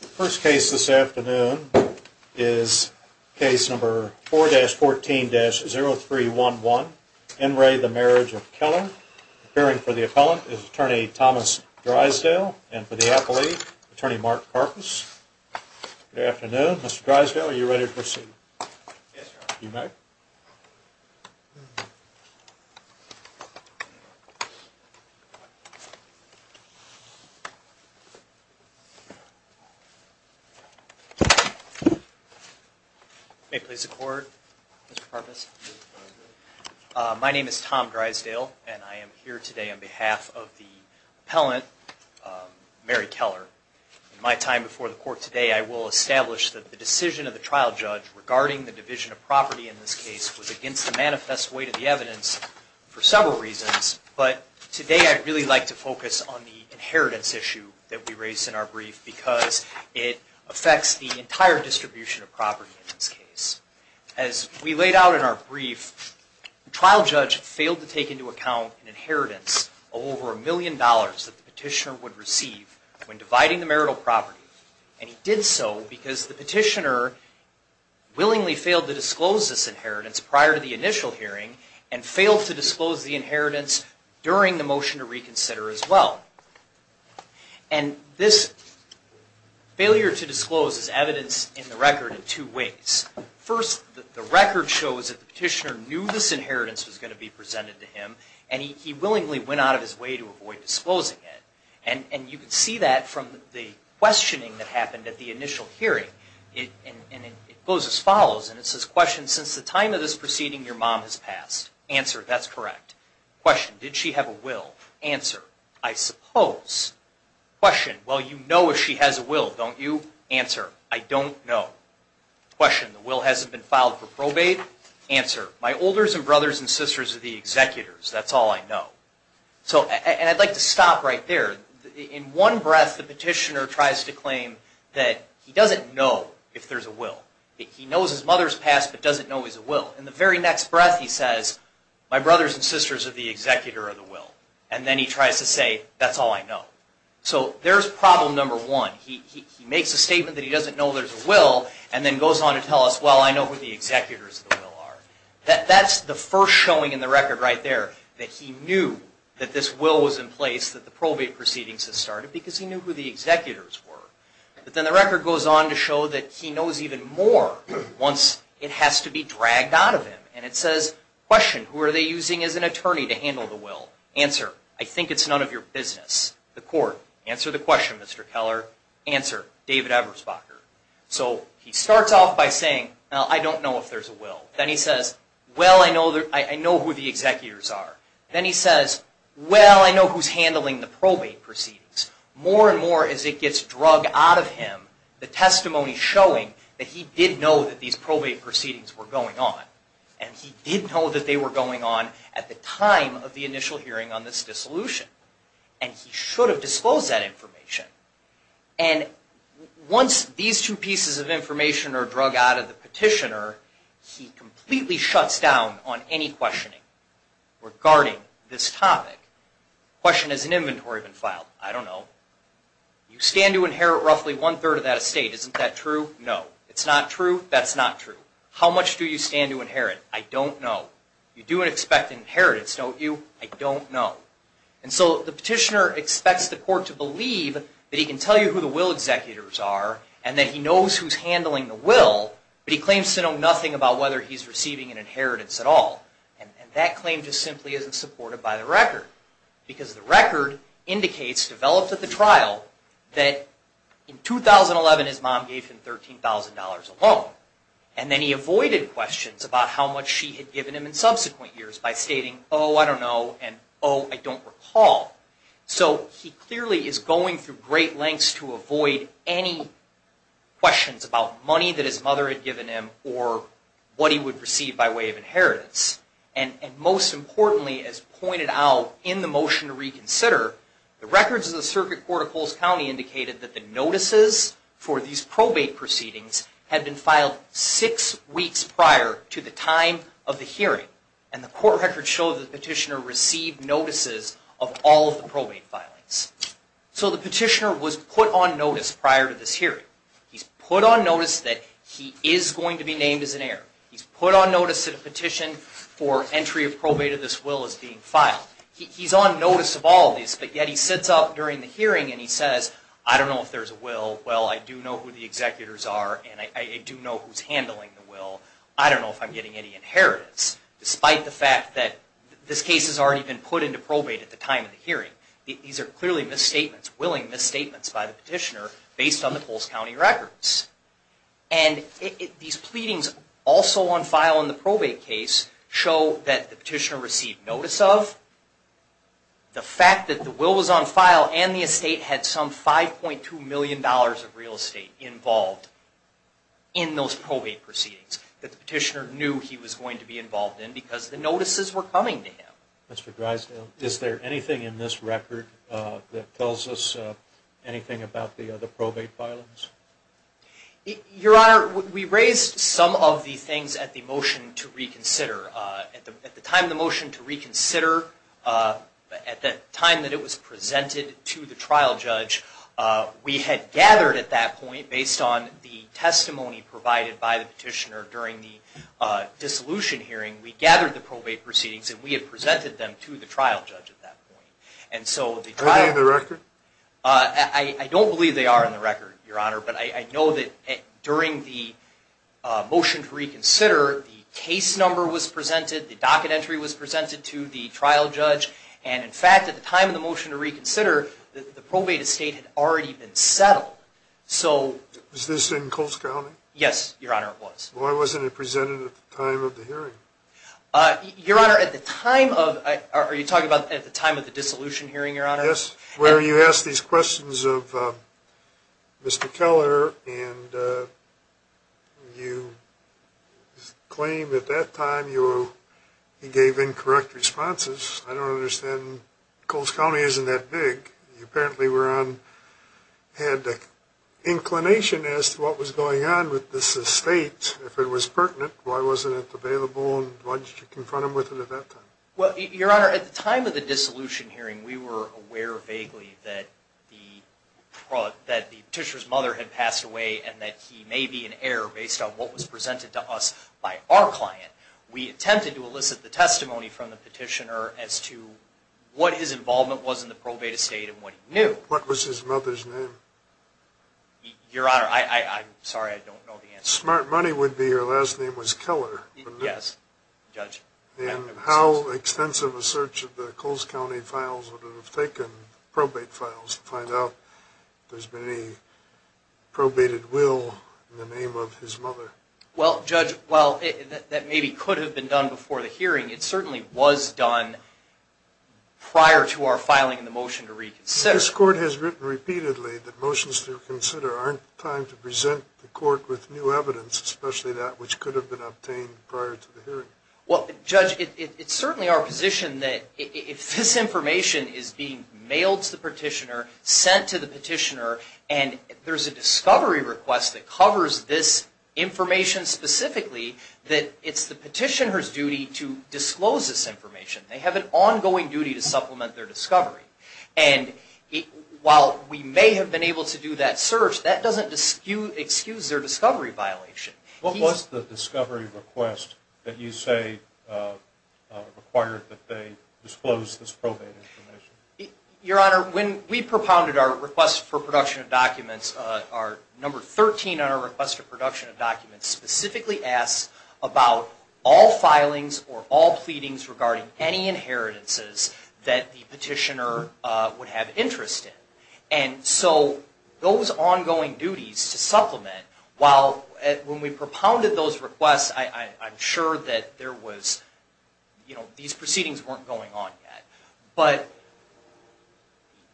The first case this afternoon is case number 4-14-0311, Enray, the Marriage of Keller. Appearing for the appellant is Attorney Thomas Drysdale and for the appellee, Attorney Mark Karpus. Good afternoon. Mr. Drysdale, are you ready to proceed? Yes, sir. You may. You may please record, Mr. Karpus. My name is Tom Drysdale and I am here today on behalf of the appellant, Mary Keller. In my time before the court today, I will establish that the decision of the trial judge regarding the division of property in this case was against the manifest weight of the evidence for several reasons. But today I'd really like to focus on the inheritance issue that we raised in our brief because it affects the entire distribution of property in this case. As we laid out in our brief, the trial judge failed to take into account an inheritance of over a million dollars that the petitioner would receive when dividing the marital property. And he did so because the petitioner willingly failed to disclose this inheritance prior to the initial hearing and failed to disclose the inheritance during the motion to reconsider as well. And this failure to disclose is evidence in the record in two ways. First, the record shows that the petitioner knew this inheritance was going to be presented to him and he willingly went out of his way to avoid disclosing it. And you can see that from the questioning that happened at the initial hearing. It goes as follows and it says, question, since the time of this proceeding your mom has passed? Answer, that's correct. Question, did she have a will? Answer, I suppose. Question, well you know if she has a will, don't you? Answer, I don't know. Question, the will hasn't been filed for probate? Answer, my olders and brothers and sisters are the executors, that's all I know. And I'd like to stop right there. In one breath the petitioner tries to claim that he doesn't know if there's a will. He knows his mother's passed but doesn't know there's a will. In the very next breath he says, my brothers and sisters are the executor of the will. And then he tries to say, that's all I know. So there's problem number one. He makes a statement that he doesn't know there's a will and then goes on to tell us, well I know who the executors of the will are. That's the first showing in the record right there that he knew that this will was in place, that the probate proceedings had started because he knew who the executors were. But then the record goes on to show that he knows even more once it has to be dragged out of him. And it says, question, who are they using as an attorney to handle the will? Answer, I think it's none of your business. The court, answer the question, Mr. Keller. Answer, David Eberspacher. So he starts off by saying, well I don't know if there's a will. Then he says, well I know who the executors are. Then he says, well I know who's handling the probate proceedings. More and more as it gets drug out of him, the testimony showing that he did know that these probate proceedings were going on. And he did know that they were going on at the time of the initial hearing on this dissolution. And he should have disposed that information. And once these two pieces of information are drug out of the petitioner, he completely shuts down on any questioning regarding this topic. Question, has an inventory been filed? I don't know. You stand to inherit roughly one-third of that estate. Isn't that true? No. It's not true? That's not true. How much do you stand to inherit? I don't know. You do expect an inheritance, don't you? I don't know. And so the petitioner expects the court to believe that he can tell you who the will executors are, and that he knows who's handling the will, but he claims to know nothing about whether he's receiving an inheritance at all. And that claim just simply isn't supported by the record. Because the record indicates, developed at the trial, that in 2011 his mom gave him $13,000 alone. And then he avoided questions about how much she had given him in subsequent years by stating, oh, I don't know, and oh, I don't recall. So he clearly is going through great lengths to avoid any questions about money that his mother had given him or what he would receive by way of inheritance. And most importantly, as pointed out in the motion to reconsider, the records of the Circuit Court of Coles County indicated that the notices for these probate proceedings had been filed six weeks prior to the time of the hearing. And the court records show that the petitioner received notices of all of the probate filings. So the petitioner was put on notice prior to this hearing. He's put on notice that he is going to be named as an heir. He's put on notice that a petition for entry of probate of this will is being filed. He's on notice of all this, but yet he sits up during the hearing and he says, I don't know if there's a will. Well, I do know who the executors are, and I do know who's handling the will. I don't know if I'm getting any inheritance, despite the fact that this case has already been put into probate at the time of the hearing. These are clearly misstatements, willing misstatements by the petitioner based on the Coles County records. And these pleadings also on file in the probate case show that the petitioner received notice of the fact that the will was on file and the estate had some $5.2 million of real estate involved in those probate proceedings that the petitioner knew he was going to be involved in because the notices were coming to him. Mr. Grisdale, is there anything in this record that tells us anything about the probate filings? Your Honor, we raised some of the things at the motion to reconsider. At the time of the motion to reconsider, at the time that it was presented to the trial judge, we had gathered at that point, based on the testimony provided by the petitioner during the dissolution hearing, we gathered the probate proceedings and we had presented them to the trial judge at that point. Are they in the record? I don't believe they are in the record, Your Honor, but I know that during the motion to reconsider, the case number was presented, the docket entry was presented to the trial judge, and in fact, at the time of the motion to reconsider, the probate estate had already been settled. Was this in Coles County? Yes, Your Honor, it was. Why wasn't it presented at the time of the hearing? Your Honor, are you talking about at the time of the dissolution hearing, Your Honor? Yes, where you asked these questions of Mr. Keller and you claimed at that time you gave incorrect responses. I don't understand. Coles County isn't that big. You apparently had an inclination as to what was going on with this estate. If it was pertinent, why wasn't it available and why did you confront him with it at that time? Well, Your Honor, at the time of the dissolution hearing, we were aware vaguely that the petitioner's mother had passed away and that he may be an heir based on what was presented to us by our client. We attempted to elicit the testimony from the petitioner as to what his involvement was in the probate estate and what he knew. What was his mother's name? Your Honor, I'm sorry, I don't know the answer. Smart Money would be her last name was Keller. Yes, Judge. And how extensive a search of the Coles County files would have taken, probate files, to find out if there's been any probated will in the name of his mother? Well, Judge, while that maybe could have been done before the hearing, it certainly was done prior to our filing the motion to reconsider. This Court has written repeatedly that motions to reconsider aren't timed to present the Court with new evidence, especially that which could have been obtained prior to the hearing. Well, Judge, it's certainly our position that if this information is being mailed to the petitioner, sent to the petitioner, and there's a discovery request that covers this information specifically, that it's the petitioner's duty to disclose this information. They have an ongoing duty to supplement their discovery. And while we may have been able to do that search, that doesn't excuse their discovery violation. What was the discovery request that you say required that they disclose this probate information? Your Honor, when we propounded our request for production of documents, our number 13 on our request for production of documents specifically asks about all filings or all pleadings regarding any inheritances that the petitioner would have interest in. And so those ongoing duties to supplement, while when we propounded those requests, I'm sure that there was, you know, these proceedings weren't going on yet. But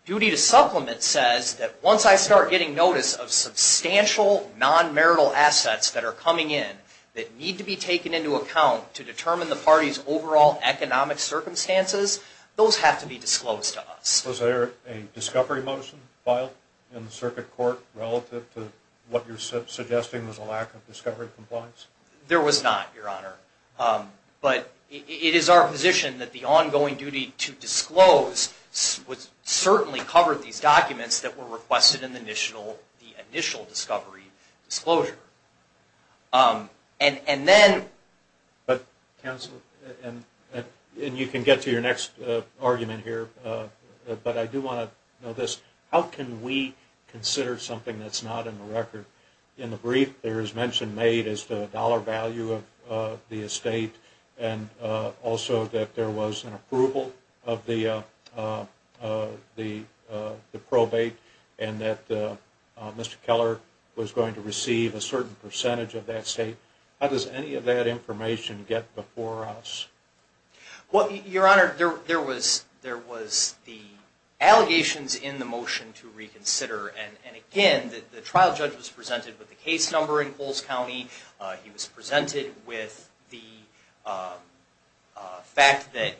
duty to supplement says that once I start getting notice of substantial non-marital assets that are coming in that need to be taken into account to determine the party's overall economic circumstances, those have to be disclosed to us. Was there a discovery motion filed in the circuit court relative to what you're suggesting was a lack of discovery compliance? There was not, Your Honor. But it is our position that the ongoing duty to disclose certainly covered these documents that were requested in the initial discovery disclosure. And then... But counsel, and you can get to your next argument here, but I do want to know this. How can we consider something that's not in the record? In the brief, there is mention made as to the dollar value of the estate and also that there was an approval of the probate and that Mr. Keller was going to receive a certain percentage of that estate. How does any of that information get before us? Well, Your Honor, there was the allegations in the motion to reconsider. And again, the trial judge was presented with the case number in Coles County. He was presented with the fact that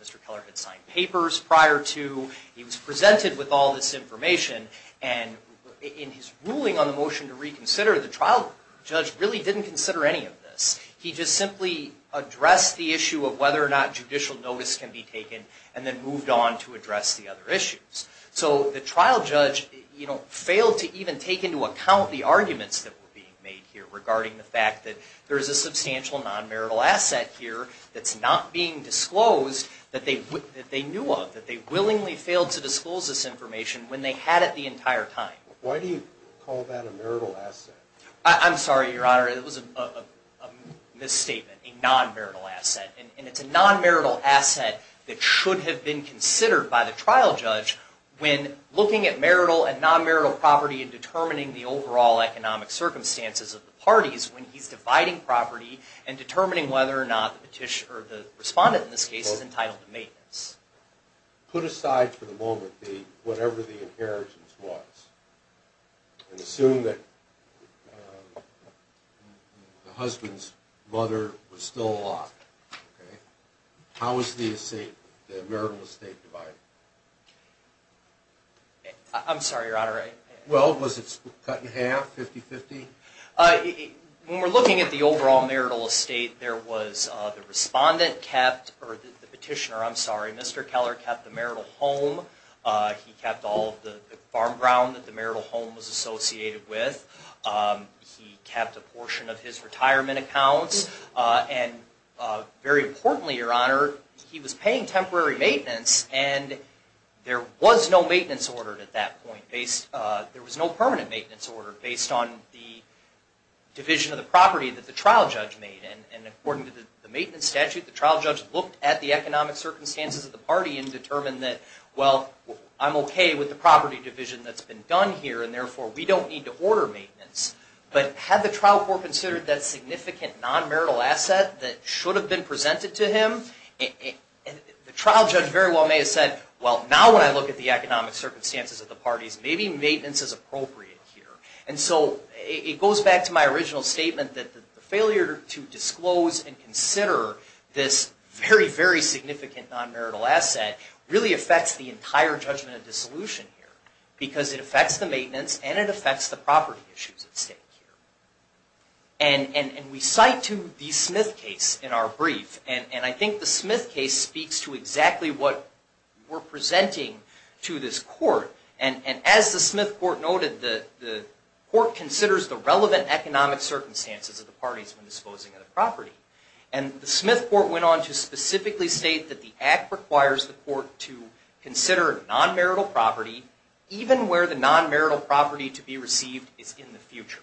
Mr. Keller had signed papers prior to. He was presented with all this information. And in his ruling on the motion to reconsider, the trial judge really didn't consider any of this. He just simply addressed the issue of whether or not judicial notice can be taken and then moved on to address the other issues. So the trial judge failed to even take into account the arguments that were being made here regarding the fact that there is a substantial non-marital asset here that's not being disclosed that they knew of, that they willingly failed to disclose this information when they had it the entire time. Why do you call that a marital asset? I'm sorry, Your Honor, it was a misstatement, a non-marital asset. And it's a non-marital asset that should have been considered by the trial judge when looking at marital and non-marital property and determining the overall economic circumstances of the parties when he's dividing property and determining whether or not the respondent in this case is entitled to maintenance. Put aside for the moment whatever the inheritance was and assume that the husband's mother was still alive. How is the estate, the marital estate divided? I'm sorry, Your Honor. Well, was it cut in half, 50-50? When we're looking at the overall marital estate, there was the respondent kept, or the petitioner, I'm sorry, Mr. Keller, kept the marital home. He kept all of the farm ground that the marital home was associated with. He kept a portion of his retirement accounts. And very importantly, Your Honor, he was paying temporary maintenance and there was no maintenance order at that point. There was no permanent maintenance order based on the division of the property that the trial judge made. And according to the maintenance statute, the trial judge looked at the economic circumstances of the party and determined that, well, I'm okay with the property division that's been done here and therefore we don't need to order maintenance. But had the trial court considered that significant non-marital asset that should have been presented to him, the trial judge very well may have said, well, now when I look at the economic circumstances of the parties, maybe maintenance is appropriate here. And so it goes back to my original statement that the failure to disclose and consider this very, very significant non-marital asset really affects the entire judgment of dissolution here because it affects the maintenance and it affects the property issues at stake here. And we cite to the Smith case in our brief, and I think the Smith case speaks to exactly what we're presenting to this court. And as the Smith court noted, the court considers the relevant economic circumstances of the parties when disposing of the property. And the Smith court went on to specifically state that the act requires the court to consider non-marital property even where the non-marital property to be received is in the future.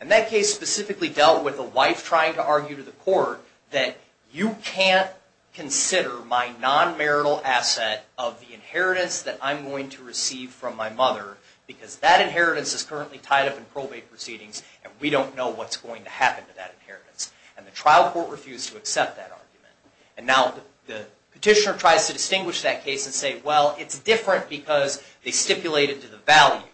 And that case specifically dealt with a wife trying to argue to the court that you can't consider my non-marital asset of the inheritance that I'm going to receive from my mother because that inheritance is currently tied up in probate proceedings and we don't know what's going to happen to that inheritance. And the trial court refused to accept that argument. And now the petitioner tries to distinguish that case and say, well, it's different because they stipulate it to the value.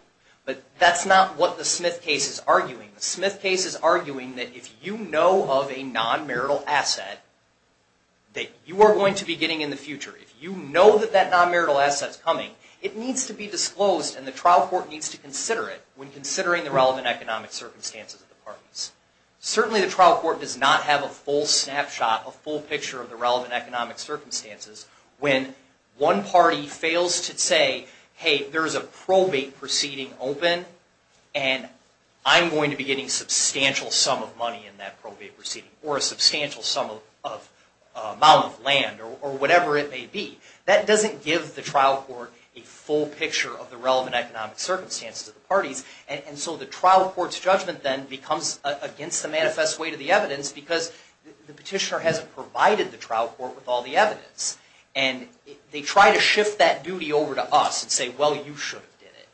But that's not what the Smith case is arguing. The Smith case is arguing that if you know of a non-marital asset that you are going to be getting in the future, if you know that that non-marital asset is coming, it needs to be disclosed and the trial court needs to consider it when considering the relevant economic circumstances of the parties. Certainly the trial court does not have a full snapshot, a full picture of the relevant economic circumstances when one party fails to say, hey, there's a probate proceeding open and I'm going to be getting substantial sum of money in that probate proceeding or a substantial amount of land or whatever it may be. That doesn't give the trial court a full picture of the relevant economic circumstances of the parties. And so the trial court's judgment then becomes against the manifest way to the evidence because the petitioner hasn't provided the trial court with all the evidence. And they try to shift that duty over to us and say, well, you should have did it.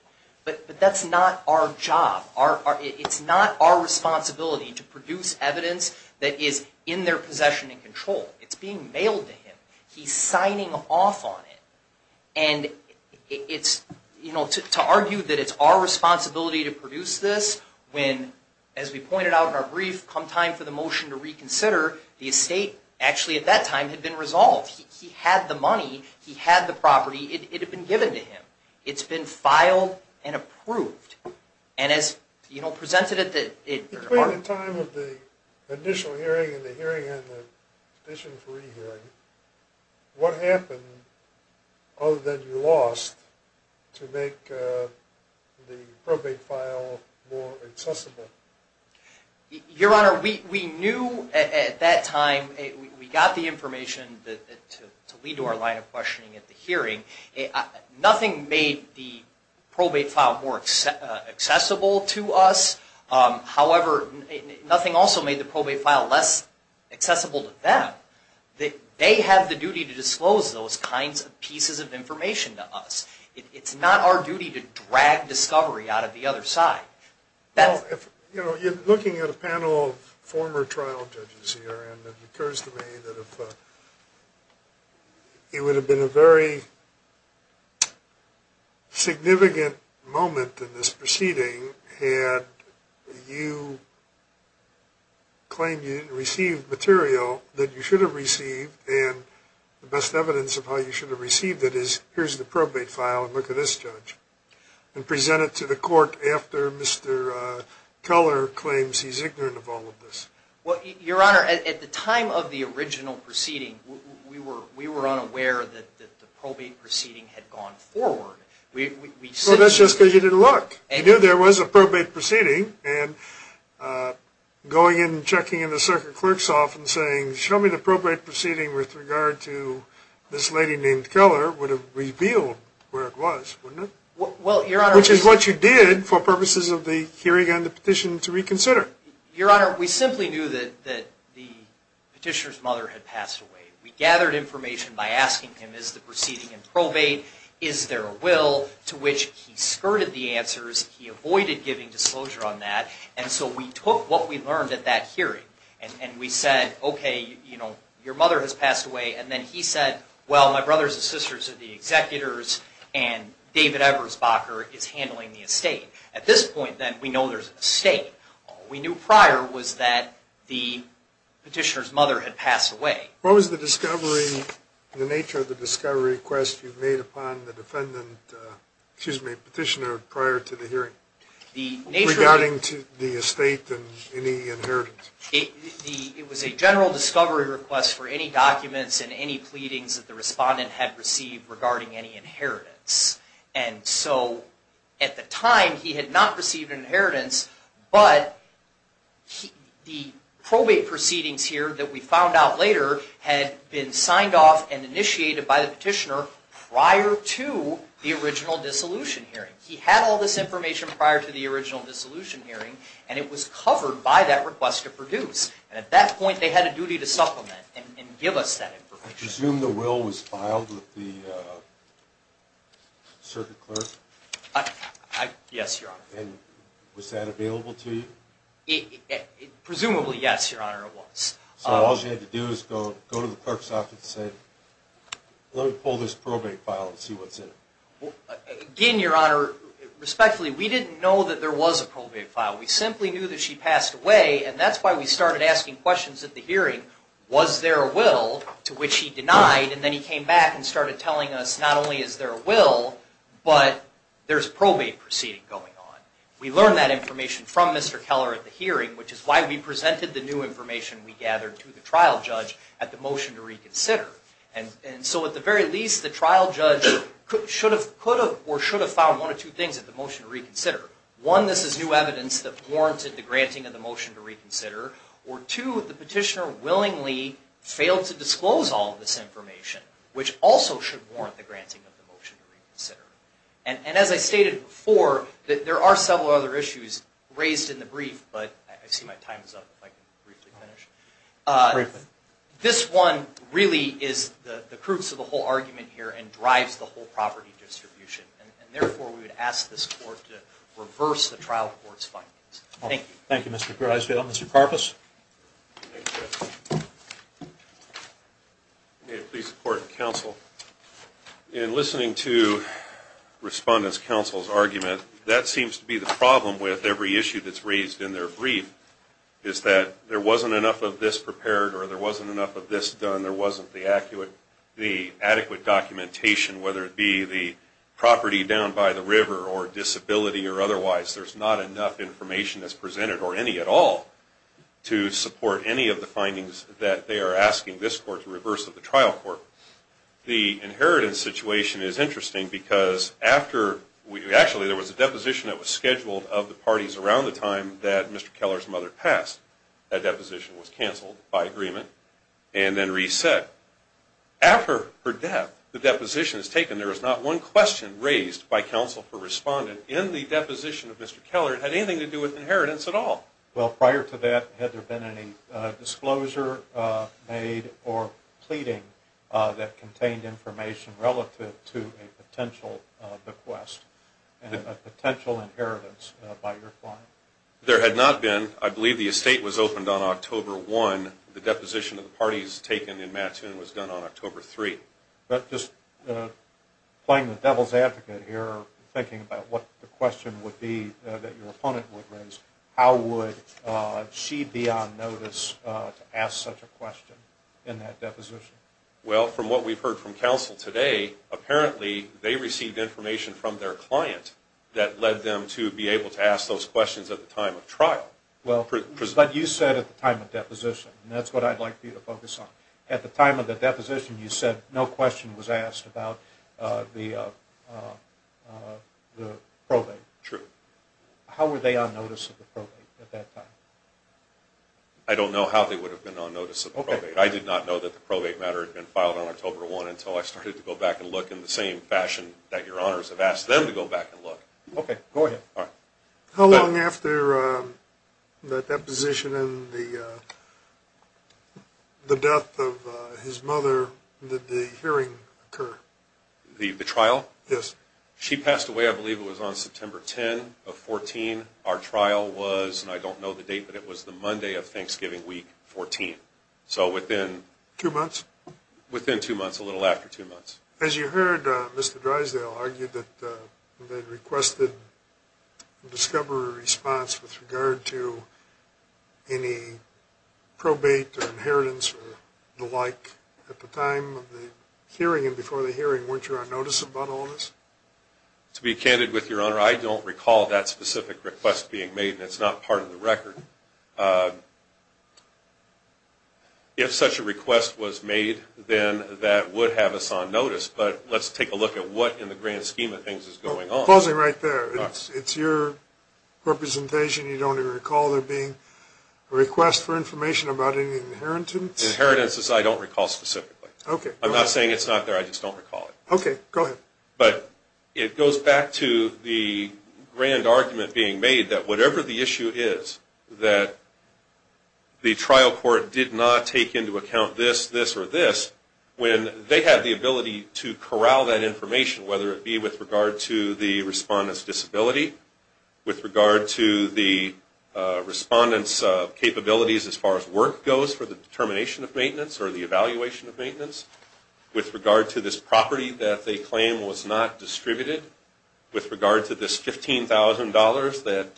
But that's not our job. It's not our responsibility to produce evidence that is in their possession and control. It's being mailed to him. He's signing off on it. And it's, you know, to argue that it's our responsibility to produce this when, as we pointed out in our brief, come time for the motion to reconsider, the estate actually at that time had been resolved. He had the money. He had the property. It had been given to him. It's been filed and approved. And as, you know, presented at the... What happened other than you lost to make the probate file more accessible? Your Honor, we knew at that time, we got the information to lead to our line of questioning at the hearing. Nothing made the probate file more accessible to us. However, nothing also made the probate file less accessible to them. They have the duty to disclose those kinds of pieces of information to us. It's not our duty to drag discovery out of the other side. You know, looking at a panel of former trial judges here, and it occurs to me that it would have been a very significant moment in this proceeding had you claimed you didn't receive material that you should have received, and the best evidence of how you should have received it is, here's the probate file and look at this, Judge, and present it to the court after Mr. Keller claims he's ignorant of all of this. Well, Your Honor, at the time of the original proceeding, we were unaware that the probate proceeding had gone forward. So that's just because you didn't look. You knew there was a probate proceeding, and going in and checking in the circuit clerk's office and saying, show me the probate proceeding with regard to this lady named Keller, would have revealed where it was, wouldn't it? Well, Your Honor... Which is what you did for purposes of the hearing on the petition to reconsider. Your Honor, we simply knew that the petitioner's mother had passed away. We gathered information by asking him, is the proceeding in probate, is there a will, to which he skirted the answers, he avoided giving disclosure on that, and so we took what we learned at that hearing, and we said, okay, you know, your mother has passed away, and then he said, well, my brothers and sisters are the executors, and David Ebersbacher is handling the estate. At this point, then, we know there's an estate. All we knew prior was that the petitioner's mother had passed away. What was the discovery, the nature of the discovery request you made upon the defendant, excuse me, petitioner prior to the hearing, regarding the estate and any inheritance? It was a general discovery request for any documents and any pleadings that the respondent had received regarding any inheritance, and so at the time he had not received an inheritance, but the probate proceedings here that we found out later had been signed off and initiated by the petitioner prior to the original dissolution hearing. He had all this information prior to the original dissolution hearing, and it was covered by that request to produce, and at that point they had a duty to supplement and give us that information. I presume the will was filed with the circuit clerk? Yes, Your Honor. And was that available to you? Presumably, yes, Your Honor, it was. So all she had to do was go to the clerk's office and say, let me pull this probate file and see what's in it. Again, Your Honor, respectfully, we didn't know that there was a probate file. We simply knew that she passed away, and that's why we started asking questions at the hearing, was there a will to which he denied, and then he came back and started telling us not only is there a will, but there's probate proceeding going on. We learned that information from Mr. Keller at the hearing, which is why we presented the new information we gathered to the trial judge at the motion to reconsider. And so at the very least, the trial judge could have or should have found one of two things at the motion to reconsider. One, this is new evidence that warranted the granting of the motion to reconsider, or two, the petitioner willingly failed to disclose all of this information, which also should warrant the granting of the motion to reconsider. And as I stated before, there are several other issues raised in the brief, but I see my time is up, if I can briefly finish. Briefly. This one really is the crux of the whole argument here and drives the whole property distribution, and therefore we would ask this court to reverse the trial court's findings. Thank you. Thank you, Mr. Griswold. Mr. Karpus? Thank you. May it please the court and counsel, in listening to respondents' counsel's argument, that seems to be the problem with every issue that's raised in their brief, is that there wasn't enough of this prepared or there wasn't enough of this done, there wasn't the adequate documentation, whether it be the property down by the river or disability or otherwise, there's not enough information that's presented, or any at all, to support any of the findings that they are asking this court to reverse of the trial court. The inheritance situation is interesting because after, actually there was a deposition that was scheduled of the parties around the time that Mr. Keller's mother passed. That deposition was canceled by agreement and then reset. After her death, the deposition is taken, and there is not one question raised by counsel for respondent in the deposition of Mr. Keller that had anything to do with inheritance at all. Well, prior to that, had there been any disclosure made or pleading that contained information relative to a potential bequest and a potential inheritance by your client? There had not been. I believe the estate was opened on October 1. The deposition of the parties taken in Mattoon was done on October 3. But just playing the devil's advocate here, thinking about what the question would be that your opponent would raise, how would she be on notice to ask such a question in that deposition? Well, from what we've heard from counsel today, apparently they received information from their client that led them to be able to ask those questions at the time of trial. But you said at the time of deposition, and that's what I'd like you to focus on. At the time of the deposition, you said no question was asked about the probate. True. How were they on notice of the probate at that time? I don't know how they would have been on notice of the probate. I did not know that the probate matter had been filed on October 1 until I started to go back and look in the same fashion that your honors have asked them to go back and look. Okay. Go ahead. How long after the deposition and the death of his mother did the hearing occur? The trial? Yes. She passed away, I believe it was on September 10 of 2014. Our trial was, and I don't know the date, but it was the Monday of Thanksgiving week, 2014. So within... Two months? Within two months, a little after two months. As you heard, Mr. Drysdale argued that they requested a discovery response with regard to any probate or inheritance or the like at the time of the hearing and before the hearing. Weren't you on notice about all of this? To be candid with your honor, I don't recall that specific request being made, and it's not part of the record. If such a request was made, then that would have us on notice, but let's take a look at what in the grand scheme of things is going on. Pausing right there. It's your representation, you don't recall there being a request for information about any inheritance? Inheritance, I don't recall specifically. Okay. I'm not saying it's not there, I just don't recall it. Okay. Go ahead. But it goes back to the grand argument being made that whatever the issue is, that the trial court did not take into account this, this, or this, when they have the ability to corral that information, whether it be with regard to the respondent's disability, with regard to the respondent's capabilities as far as work goes for the determination of maintenance or the evaluation of maintenance, with regard to this property that they claim was not distributed, with regard to this $15,000 that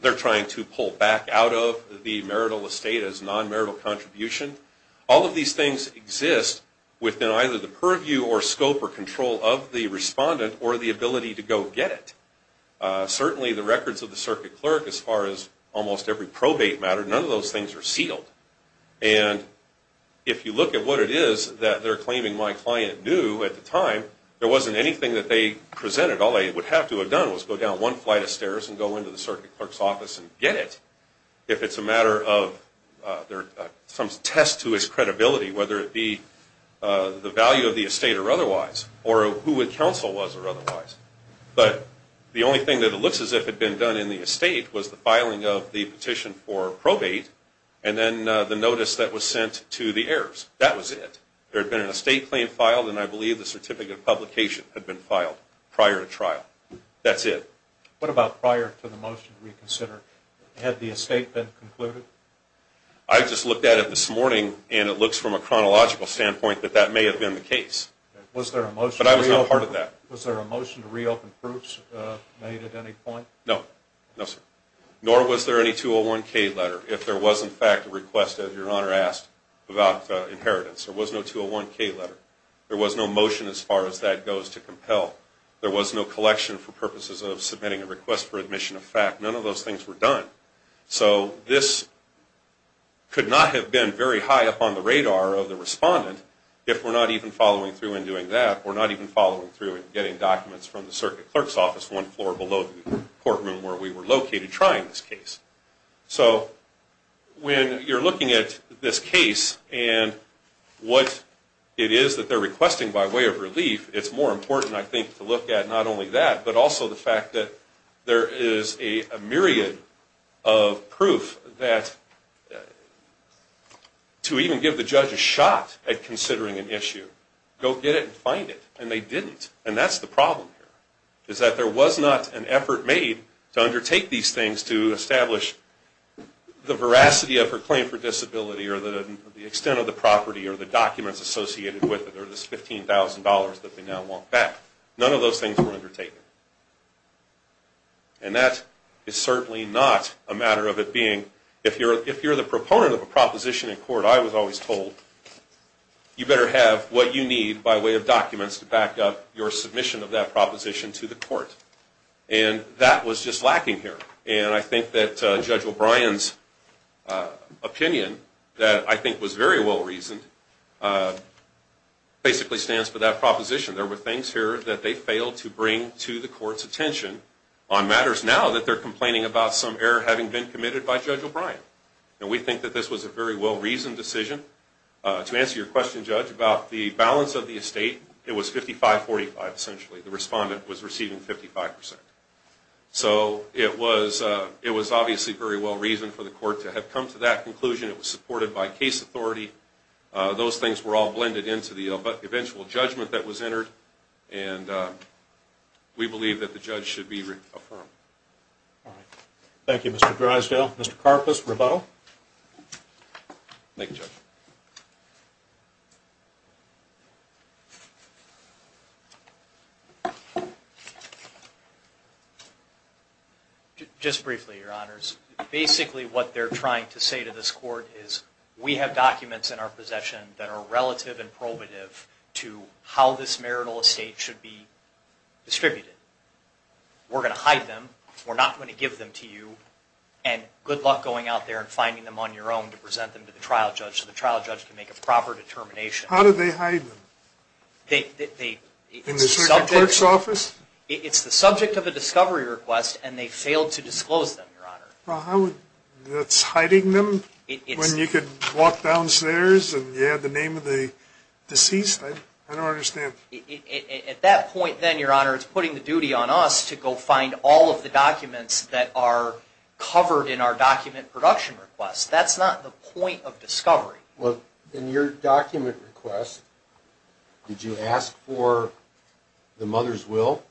they're trying to pull back out of the marital estate as non-marital contribution. All of these things exist within either the purview or scope or control of the respondent or the ability to go get it. Certainly the records of the circuit clerk as far as almost every probate matter, none of those things are sealed. And if you look at what it is that they're claiming my client knew at the time, there wasn't anything that they presented. All they would have to have done was go down one flight of stairs and go into the circuit clerk's office and get it. If it's a matter of some test to his credibility, whether it be the value of the estate or otherwise, or who a counsel was or otherwise. But the only thing that it looks as if had been done in the estate was the filing of the petition for probate and then the notice that was sent to the heirs. That was it. There had been an estate claim filed and I believe the certificate of publication had been filed prior to trial. That's it. What about prior to the motion to reconsider? Had the estate been concluded? I just looked at it this morning and it looks from a chronological standpoint that that may have been the case. But I was not part of that. Was there a motion to reopen proofs made at any point? No. No, sir. Nor was there any 201-K letter if there was in fact a request, as Your Honor asked, about inheritance. There was no 201-K letter. There was no motion as far as that goes to compel. There was no collection for purposes of submitting a request for admission of fact. None of those things were done. So this could not have been very high up on the radar of the respondent if we're not even following through in doing that, if we're not even following through in getting documents from the circuit clerk's office one floor below the courtroom where we were located trying this case. So when you're looking at this case and what it is that they're requesting by way of relief, it's more important, I think, to look at not only that but also the fact that there is a myriad of proof that to even give the judge a shot at considering an issue, go get it and find it. And they didn't. And that's the problem here, is that there was not an effort made to undertake these things to establish the veracity of her claim for disability or the extent of the property or the documents associated with it or this $15,000 that they now want back. None of those things were undertaken. And that is certainly not a matter of it being, if you're the proponent of a proposition in court, I was always told, you better have what you need by way of documents to back up your submission of that proposition to the court. And that was just lacking here. And I think that Judge O'Brien's opinion that I think was very well reasoned basically stands for that proposition. There were things here that they failed to bring to the court's attention on matters now that they're complaining about some error having been committed by Judge O'Brien. And we think that this was a very well reasoned decision. To answer your question, Judge, about the balance of the estate, it was 55-45 essentially. The respondent was receiving 55%. So it was obviously very well reasoned for the court to have come to that conclusion. It was supported by case authority. Those things were all blended into the eventual judgment that was entered. And we believe that the judge should be affirmed. All right. Thank you, Mr. Drysdale. Mr. Karpus, rebuttal? Thank you, Judge. Just briefly, Your Honors. Basically what they're trying to say to this court is we have documents in our possession that are relative and probative to how this marital estate should be distributed. We're going to hide them. We're not going to give them to you. And good luck going out there and finding them on your own to present them to the trial judge so the trial judge can make a proper determination. How do they hide them? In the circuit clerk's office? It's the subject of a discovery request. And they failed to disclose them, Your Honor. That's hiding them when you could walk downstairs and you had the name of the deceased? I don't understand. At that point then, Your Honor, it's putting the duty on us to go find all of the documents that are covered in our document production request. That's not the point of discovery. Well, in your document request, did you ask for the mother's will?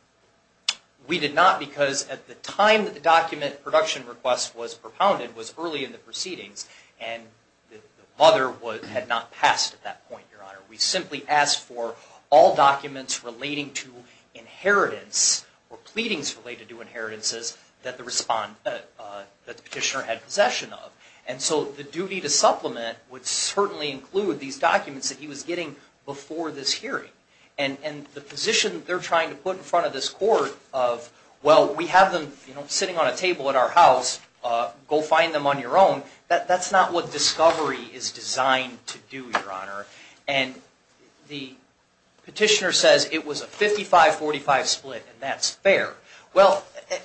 We did not because at the time that the document production request was propounded was early in the proceedings and the mother had not passed at that point, Your Honor. We simply asked for all documents relating to inheritance or pleadings related to inheritances that the petitioner had possession of. And so the duty to supplement would certainly include these documents that he was getting before this hearing. And the position they're trying to put in front of this court of, well, we have them sitting on a table at our house. Go find them on your own. That's not what discovery is designed to do, Your Honor. And the petitioner says it was a 55-45 split and that's fair. Well,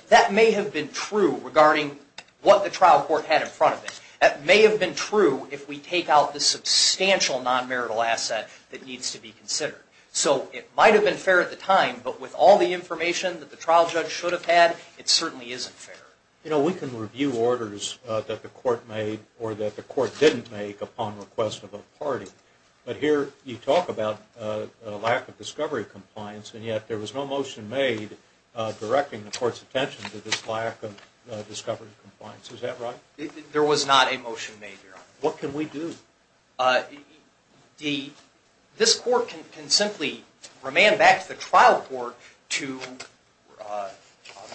that may have been true regarding what the trial court had in front of it. That may have been true if we take out the substantial non-marital asset that needs to be considered. So it might have been fair at the time, but with all the information that the trial judge should have had, it certainly isn't fair. You know, we can review orders that the court made or that the court didn't make upon request of a party. But here you talk about a lack of discovery compliance, and yet there was no motion made directing the court's attention to this lack of discovery compliance. Is that right? There was not a motion made, Your Honor. What can we do? This court can simply remand back to the trial court the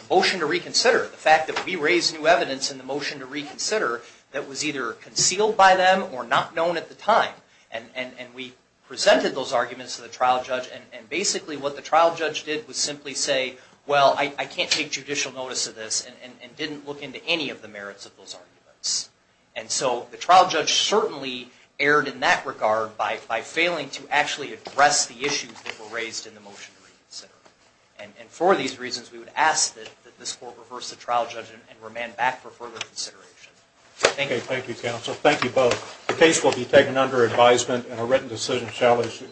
motion to reconsider, the fact that we raised new evidence in the motion to reconsider that was either concealed by them or not known at the time. And we presented those arguments to the trial judge, and basically what the trial judge did was simply say, well, I can't take judicial notice of this and didn't look into any of the merits of those arguments. And so the trial judge certainly erred in that regard by failing to actually address the issues that were raised in the motion to reconsider. And for these reasons, we would ask that this court reverse the trial judge and remand back for further consideration. Thank you. Thank you, counsel. Thank you both. The case will be taken under advisement, and a written decision shall issue.